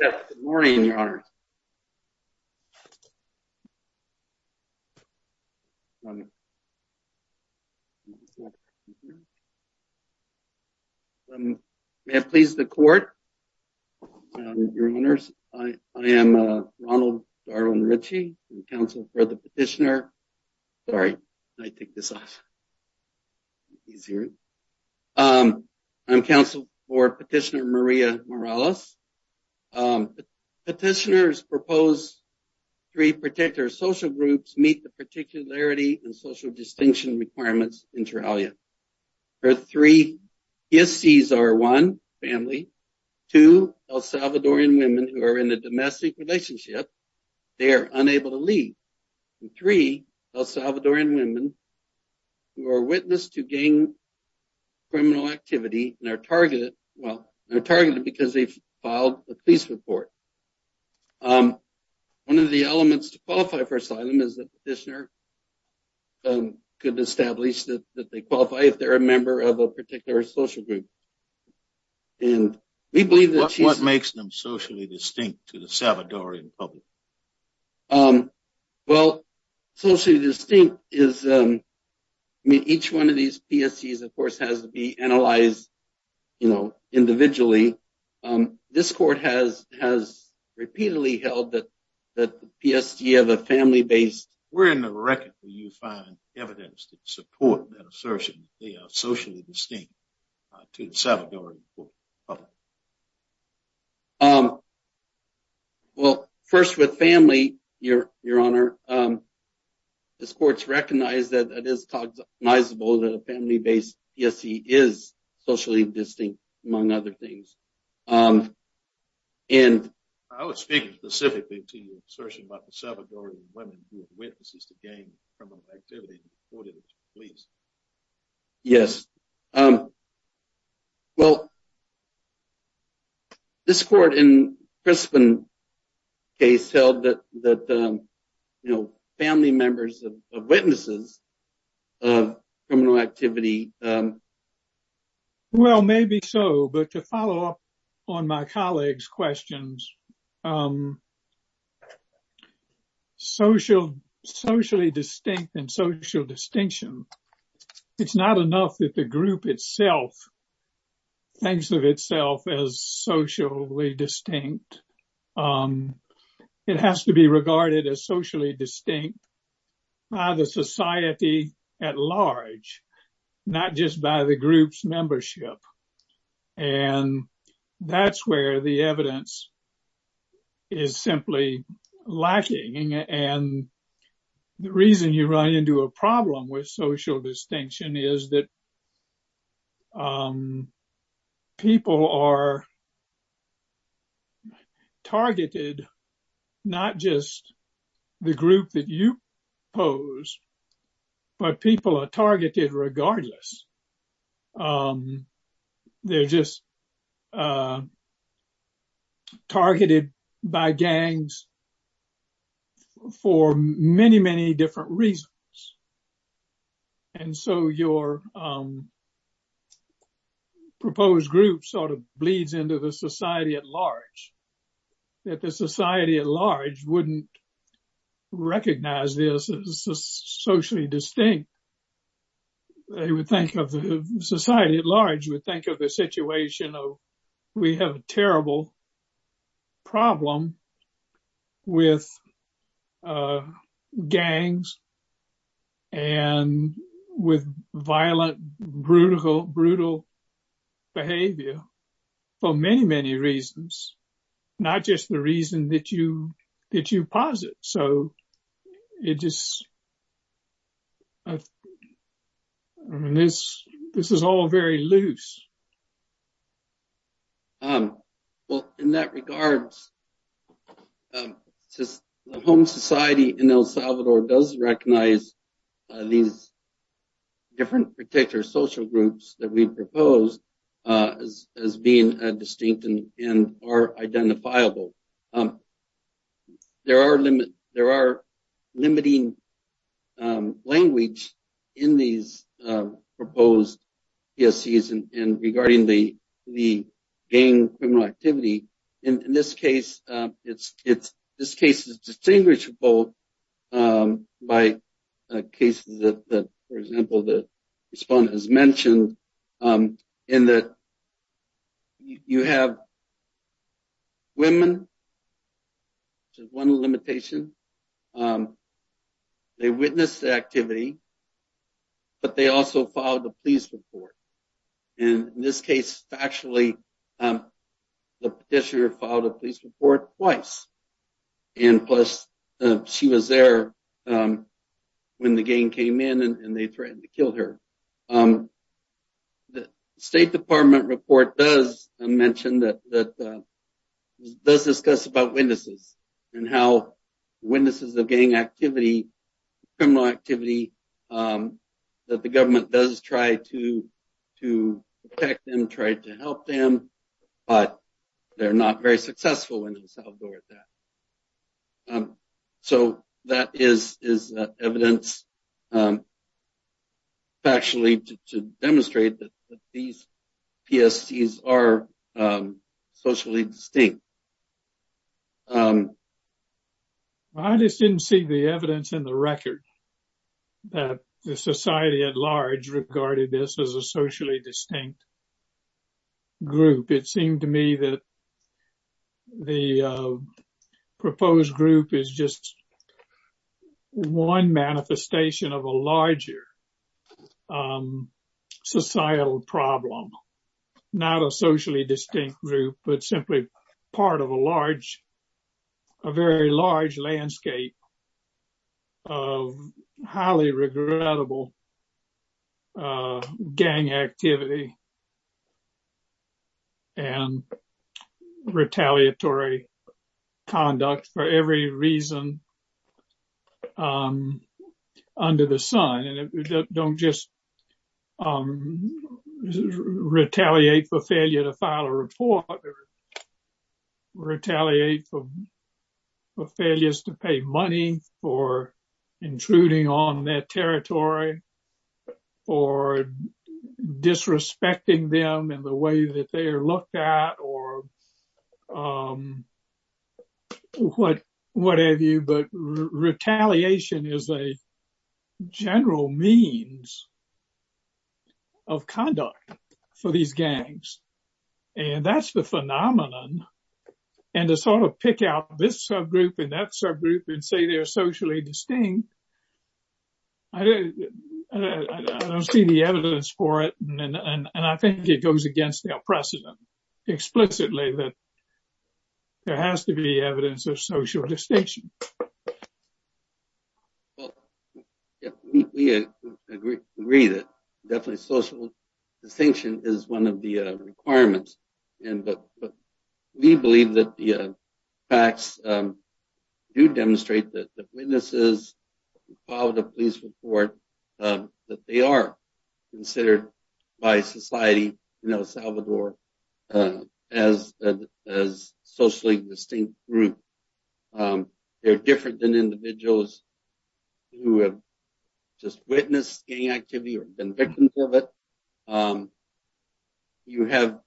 Good morning, your honors. May it please the court, your honors. I am Ronald Garland Ritchie, counsel for the petitioner. Sorry, I take this off. I'm counsel for petitioner Maria Morales. Petitioners propose three particular social groups meet the particularity and social distinction requirements in Teralia. There are three PSCs are one, family. Two, El Salvadorian women who are in a domestic relationship. They are unable to leave. And three, El Salvadorian women who are witness to gang criminal activity and are targeted. Well, they're targeted because they've filed a police report. One of the elements to qualify for asylum is that petitioner could establish that they qualify if they're a member of a particular social group. And we believe that she's... What makes them mean? Each one of these PSCs, of course, has to be analyzed, you know, individually. This court has has repeatedly held that the PSC of a family-based... We're in the record where you find evidence to support that assertion. They are socially distinct to the Salvadorian public. Well, first with family, Your Honor, this court's recognized that it is cognizable that a family-based PSC is socially distinct, among other things. And... I would speak specifically to your assertion about the Salvadorian women who are witnesses to gang criminal activity and reported it to the police. Yes. Well, this court in Crispin's case held that, you know, family members of witnesses of criminal activity... Well, maybe so, but to follow up on my distinction, it's not enough that the group itself thinks of itself as socially distinct. It has to be regarded as socially distinct by the society at large, not just by the group's membership. And that's where the evidence is simply lacking. And the reason you run into a problem with social distinction is that people are targeted, not just the group that you pose, but people are targeted regardless. They're just targeted by gangs for many, many different reasons. And so your proposed group sort of bleeds into the society at large, that the society at large wouldn't recognize this as socially distinct. Society at large would think of the situation of, we have a terrible problem with gangs and with violent, brutal behavior for many, many reasons, not just the reason that you posit. So it just, I mean, this is all very loose. Well, in that regard, the home society in El Salvador does recognize these different particular social groups that we propose as being distinct and are identifiable. There are limiting language in these proposed PSCs regarding the gang criminal activity. And in this case, it's, this case is distinguishable by cases that, for example, the respondent has mentioned in that you have women, which is one limitation. They witnessed the activity, but they also followed the police report. And in this case, factually, the petitioner filed a police report twice. And plus, she was there when the gang came in and they threatened to kill her. The State Department report does mention that does discuss about witnesses and how witnesses of gang activity, criminal activity, that the help them, but they're not very successful in El Salvador at that. So that is evidence factually to demonstrate that these PSCs are socially distinct. I just didn't see the evidence in the record that the society at large regarded this as a group. It seemed to me that the proposed group is just one manifestation of a larger societal problem, not a socially distinct group, but simply part of a large, a very large landscape of highly regrettable gang activity and retaliatory conduct for every reason under the sun. And don't just for intruding on their territory or disrespecting them in the way that they are looked at or what have you, but retaliation is a general means of conduct for these gangs. And that's the phenomenon. And to sort of pick out this subgroup and that subgroup and say they're socially distinct, I don't see the evidence for it. And I think it goes against our precedent explicitly that there has to be evidence of social distinction. Well, we agree that definitely social distinction is one of the requirements. And we believe that the facts do demonstrate that the witnesses follow the police report, that they are considered by society in El Salvador as a socially distinct group. They're different than individuals who have just witnessed gang activity or been victims of it. You have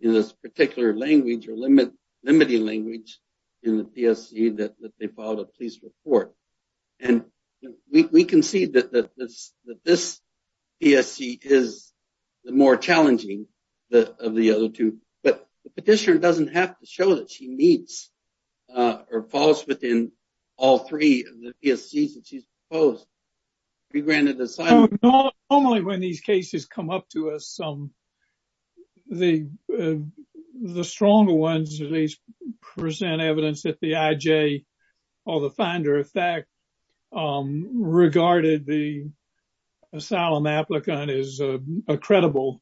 in this particular language or limiting language in the PSC that they follow the police report. And we can see that this PSC is the more challenging of the other two. But the petitioner doesn't have to show that she meets or falls within all three of the PSCs that she's proposed. Normally when these cases come up to us, the stronger ones at least present evidence that the witness is credible.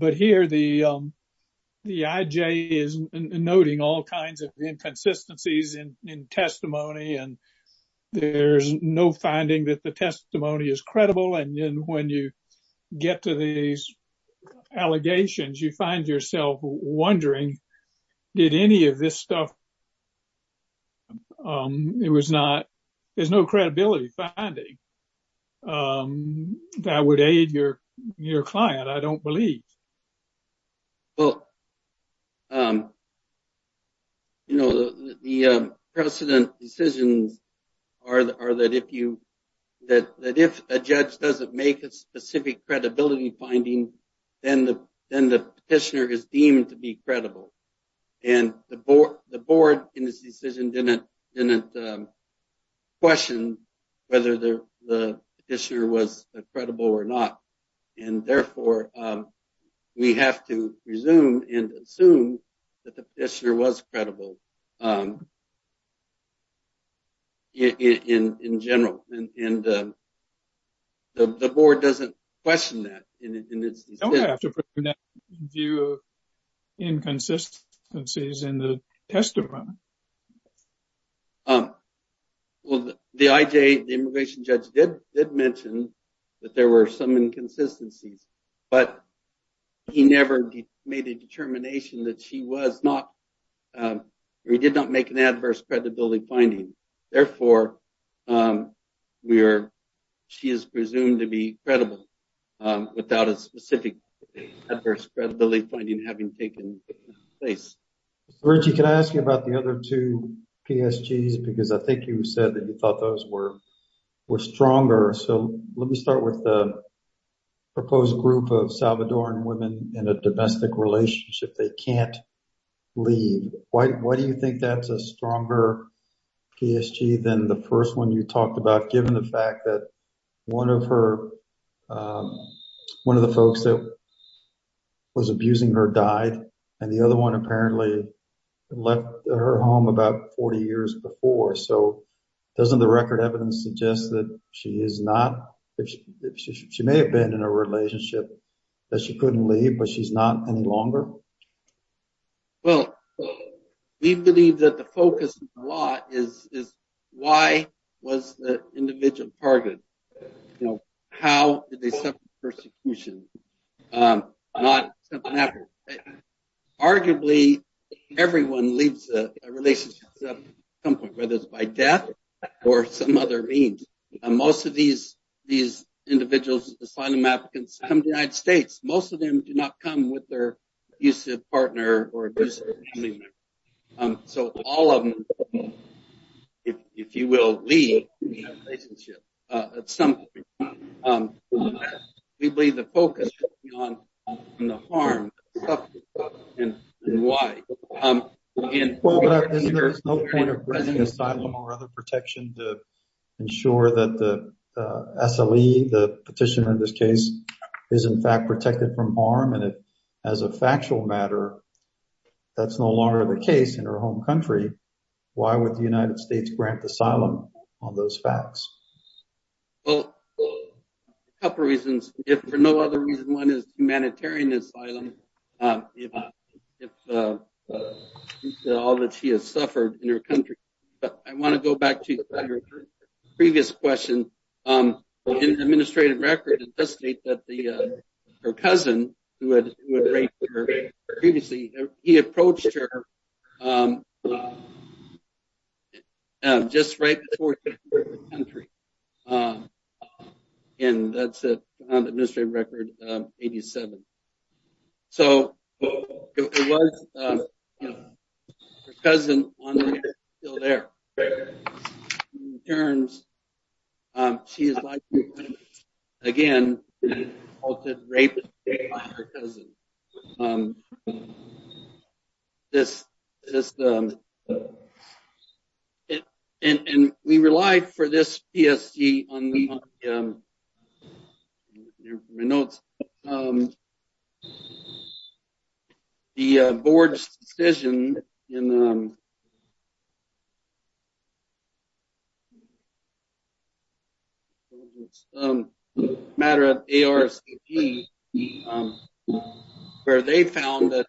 But here the IJ is noting all kinds of inconsistencies in testimony. And there's no finding that the testimony is credible. And then when you get to these allegations, you find yourself wondering, did any of this stuff... There's no credibility finding that would aid your client, I don't believe. Well, you know, the precedent decisions are that if a judge doesn't make a specific credibility finding, then the petitioner is deemed to be credible. And the board in this decision didn't question whether the petitioner was credible or not. And therefore, we have to presume and assume that the petitioner was credible in general. And the board doesn't question that in its decision. After putting that view of inconsistencies in the testimony. Well, the IJ, the immigration judge did mention that there were some inconsistencies, but he never made a determination that she was not... He did not make an adverse credibility finding. Therefore, she is presumed to be credible without a specific adverse credibility finding having taken place. Richie, can I ask you about the other two PSGs? Because I think you said that you thought those were stronger. So let me start with the proposed group of Salvadoran women in a PSG than the first one you talked about, given the fact that one of her... One of the folks that was abusing her died. And the other one apparently left her home about 40 years before. So doesn't the record evidence suggest that she is not... She may have been in a relationship that she couldn't leave, but she's not any longer? Well, we believe that the focus of the law is why was the individual targeted? How did they suffer persecution, not something else? Arguably, everyone leaves a relationship at some point, whether it's by death or some other means. Most of these individuals, asylum applicants, come to the United States. Most of them do not come with their abusive partner or abusive family member. So all of them, if you will, leave a relationship at some point. We believe the focus should be on the harm, the suffering, and why. Well, is there no point of bringing asylum or is, in fact, protected from harm? And if, as a factual matter, that's no longer the case in her home country, why would the United States grant asylum on those facts? Well, a couple of reasons. If for no other reason, one is humanitarian asylum, if all that she has suffered in her country. But I want to go back to your previous question. In the administrative record, it does state that her cousin, who had raped her previously, he approached her just right before she left the country. And that's on administrative record 87. So it was, you know, her cousin on the record is still there. In terms, she is likely, again, assaulted, raped by her cousin. And we relied for this PSG on the notes. The board's decision in the matter of ARCG, where they found that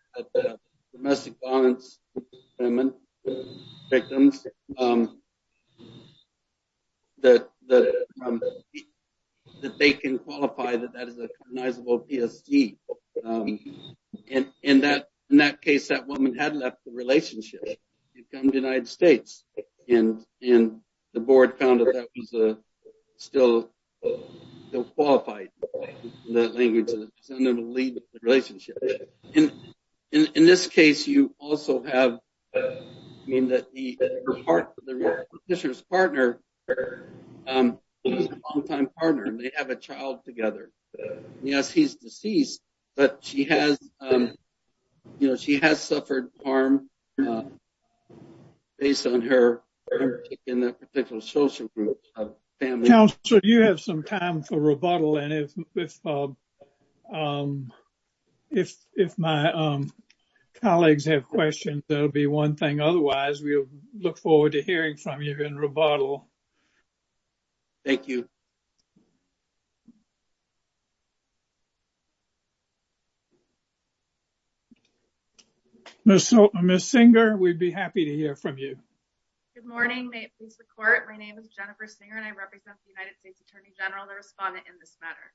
domestic violence victims, that they can qualify that that is a cognizable PSG. In that case, that woman had left the country. And the board found that that was still qualified in that language. In this case, you also have, I mean, that the practitioner's partner is a longtime partner. They have a child in that particular social group of family. Council, you have some time for rebuttal. And if my colleagues have questions, that'll be one thing. Otherwise, we'll look forward to hearing from you in rebuttal. Thank you. Ms. Singer, we'd be happy to hear from you. Good morning. My name is Jennifer Singer, and I represent the United States Attorney General, the respondent in this matter.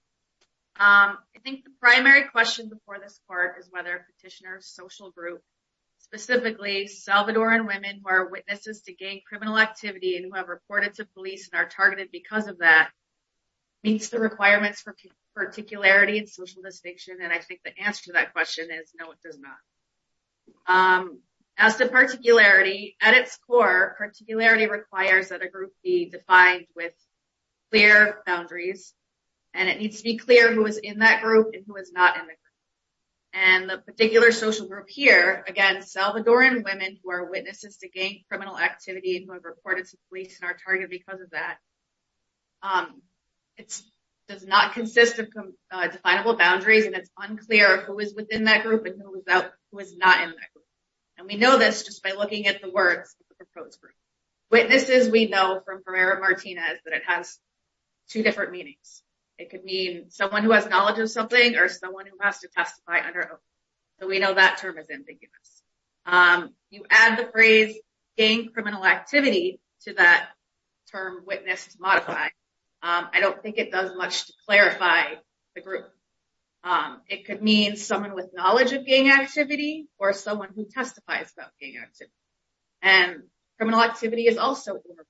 I think the primary question before this part is whether petitioner social group, specifically Salvadoran women who are witnesses to gang criminal activity and who have reported to police and are targeted because of that meets the requirements for particularity and social distinction. And I think the answer to that question is no, it does not. As to particularity, at its core, particularity requires that a group be defined with clear boundaries. And it needs to be clear who is in that group and who is not in it. And the particular social group here, again, Salvadoran women who are witnesses to gang criminal activity and who have reported to police and are targeted because of that, it does not consist of definable boundaries. And it's unclear who is within that group and who is not in that group. And we know this just by looking at the words of the proposed group. Witnesses, we know from Pereira Martinez, that it has two different meanings. It could mean someone who has knowledge of something or someone who has to testify under oath. So we know that term is ambiguous. You add the phrase gang criminal activity to that term witness to modify. I don't think it does much to clarify the group. It could mean someone with knowledge of gang activity or someone who testifies about gang activity. And criminal activity is also overpowered.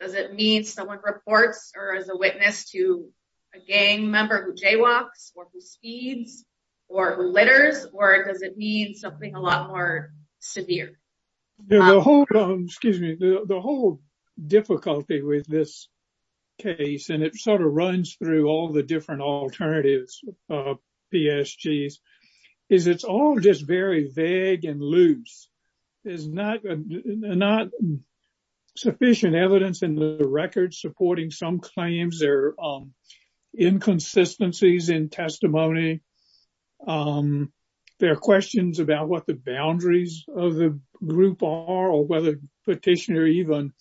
Does it mean someone reports or is a witness to a gang member who jaywalks or who speeds or litters? Or does it mean something a lot more severe? The whole difficulty with this case, and it sort of runs through all the different alternatives of PSGs, is it's all just very vague and loose. There's not sufficient evidence in the record supporting some claims. There are inconsistencies in testimony. There are questions about what the boundaries of the group are or whether petitioner even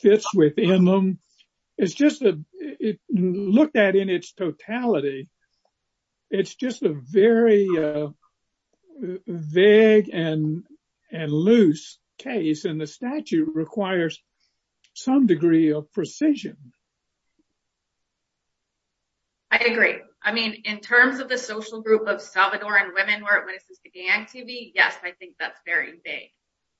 fits within them. It's just looked at in its totality. It's just a very vague and loose case. And the statute requires some degree of precision. I agree. I mean, in terms of the social group of Salvadoran women who are witnesses to gang activity, yes, I think that's very vague.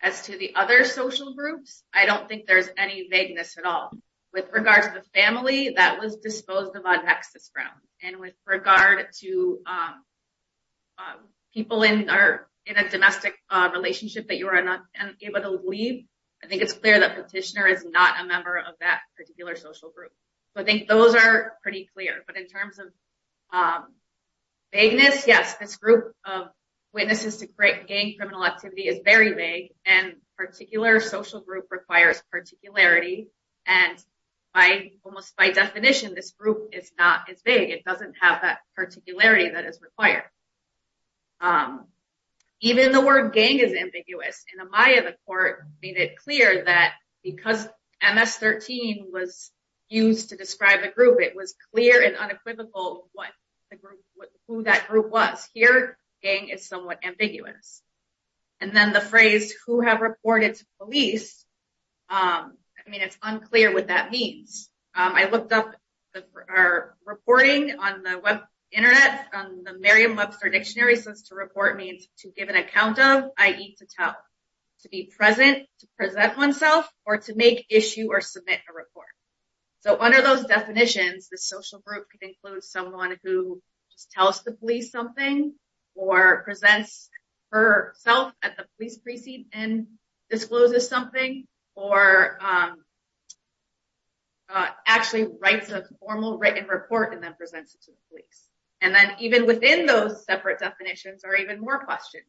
As to the other social groups, I don't think there's any vagueness at all. With regard to the family, that was disposed of on Texas ground. And with regard to people in a domestic relationship that you are not able to leave, I think it's clear that petitioner is not a member of that particular social group. So I think those are pretty clear. But in terms of vagueness, yes, this group of witnesses to gang criminal activity is very vague. And particular social group requires particularity. And almost by definition, this group is not as vague. It doesn't have that particularity that is required. Even the word gang is ambiguous. In Amaya, the court made it clear that because MS-13 was used to describe a group, it was clear and unequivocal who that group was. Here, gang is somewhat ambiguous. And then the phrase, who have reported to police, I mean, it's unclear what that means. I looked up our reporting on the web internet, on the Merriam Webster Dictionary says to report means to give an account of, i.e., to tell. To be present, to present oneself, or to make, issue, or submit a report. So under those definitions, the social group could include someone who just tells the police something, or presents herself at the police precinct and discloses something, or actually writes a formal written report and then presents it to the police. And then even within those separate definitions are even more questions.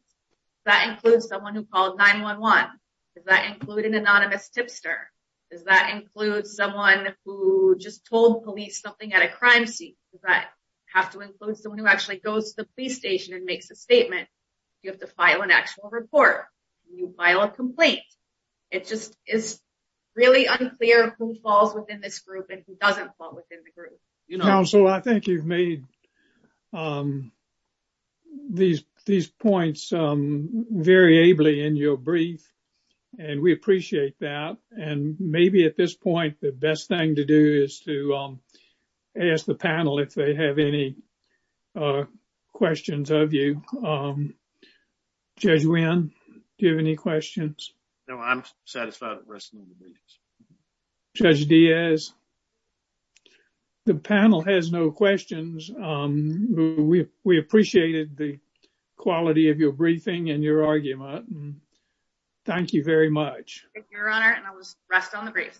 That includes someone who called 911. Does that include an anonymous tipster? Does that include someone who just told police something at a crime scene? Does that have to include someone who actually goes to the police station and makes a statement? Do you have to file an actual report? Do you file a complaint? It just is really unclear who falls within this group and who doesn't fall within the group. Counsel, I think you've made these points very ably in your brief, and we appreciate that. And maybe at this point, the best thing to do is to ask the panel if they have any questions of you. Judge Nguyen, do you have any questions? No, I'm satisfied with the rest of the briefs. Judge Diaz, the panel has no questions. We appreciated the quality of your briefing and your argument. Thank you very much. Thank you, Your Honor, and I'll just rest on the briefs.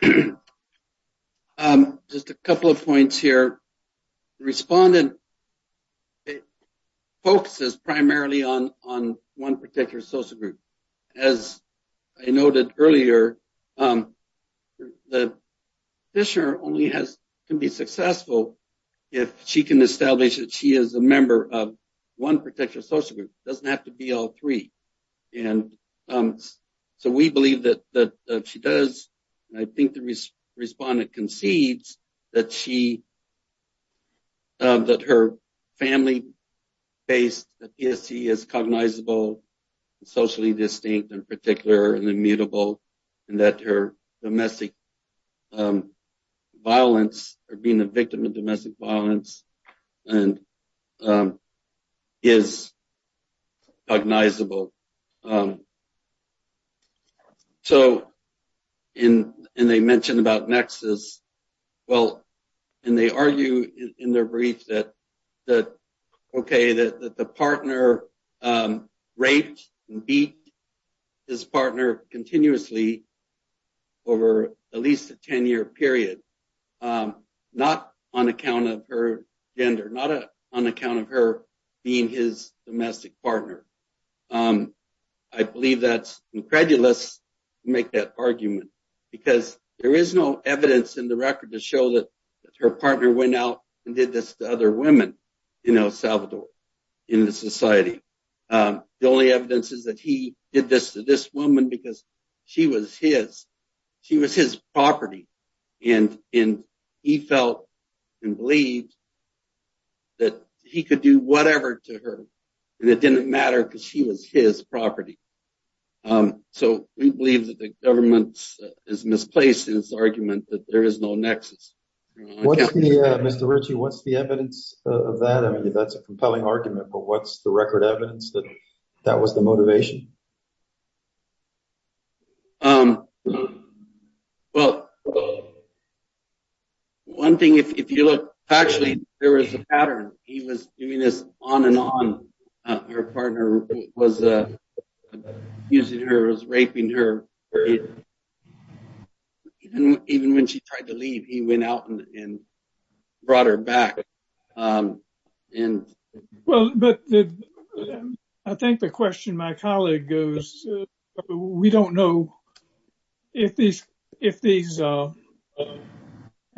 Thank you. Just a couple of points here. Respondent focuses primarily on one particular social group. As I noted earlier, the petitioner only can be successful if she can establish that she is a one particular social group. It doesn't have to be all three. So we believe that she does, and I think the respondent concedes, that her family-based PSC is cognizable, socially distinct in particular, and immutable, and that her domestic violence or being a victim of domestic violence is cognizable. And they mentioned about nexus, and they argue in their brief that the partner raped and beat his partner continuously over at least a 10-year period, not on account of her gender, not on account of her being his domestic partner. I believe that's incredulous to make that argument, because there is no evidence in the record to show that her partner went out and did this to other women in El Salvador, in the society. The only evidence is that he did this to this woman because she was his. She was his property, and he felt and believed that he could do whatever to her, and it didn't matter because she was his property. So we believe that the government is misplaced in its argument that there is no nexus. What's the, Mr. Ritchie, what's the evidence of that? I mean, that's a compelling argument, but what's the record evidence that that was the motivation? Well, one thing, if you look, actually, there was a pattern. He was doing this on and on. Her partner was using her, was raping her. Even when she tried to leave, he went out and brought her back. Well, but I think the question my colleague goes, we don't know if these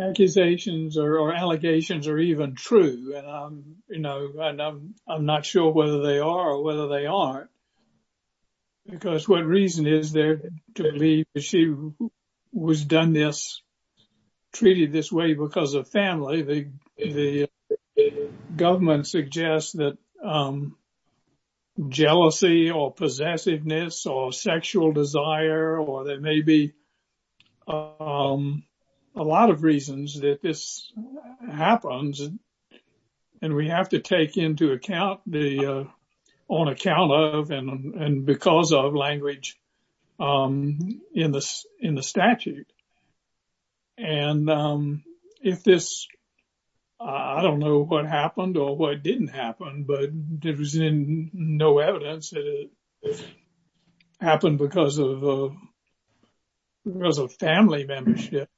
accusations or whether they are or whether they aren't, because what reason is there to believe she was done this, treated this way because of family? The government suggests that jealousy or possessiveness or sexual desire, or there may be a lot of reasons that this happens, and we have to take into account the, on account of and because of language in the statute. And if this, I don't know what happened or what didn't happen, but there was no evidence that it happened because of family membership.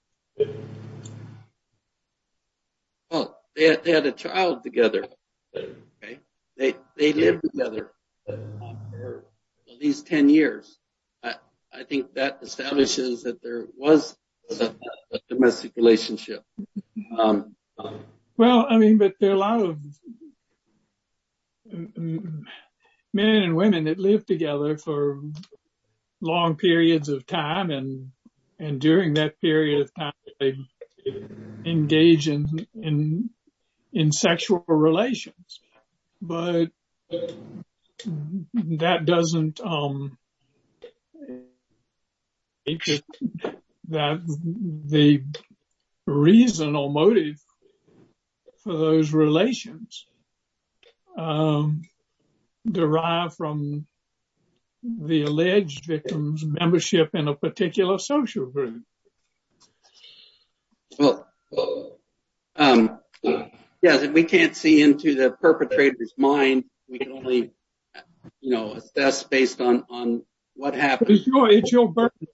Well, they had a child together. They lived together for at least 10 years. I think that establishes that there was a domestic relationship. Well, I mean, but there are a lot of men and women that lived together for long periods of time, and during that period, they engage in sexual relations, but that doesn't mean that the reason or motive for those relations is derived from the alleged victim's membership in a particular social group. Well, yes, and we can't see into the perpetrator's mind. We can only, you know, assess based on what happened. It's your burden.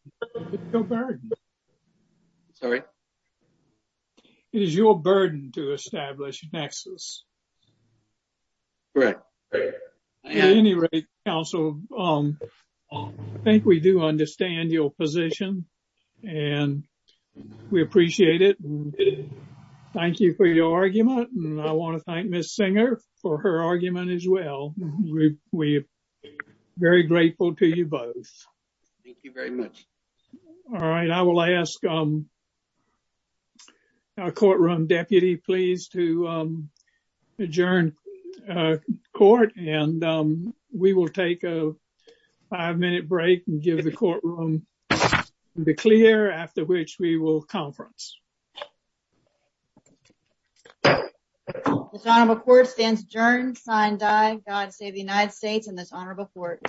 It's your burden. Sorry? It is your burden to establish nexus. Correct. At any rate, counsel, I think we do understand your position, and we appreciate it. Thank you for your argument, and I want to thank Ms. Singer for her argument as well. We're very grateful to you both. Thank you very much. All right, I will ask our courtroom deputy, please, to adjourn court, and we will take a five-minute break and give the courtroom the clear after which we will conference. This honorable court stands adjourned, sign die, God save the United States and this honorable court.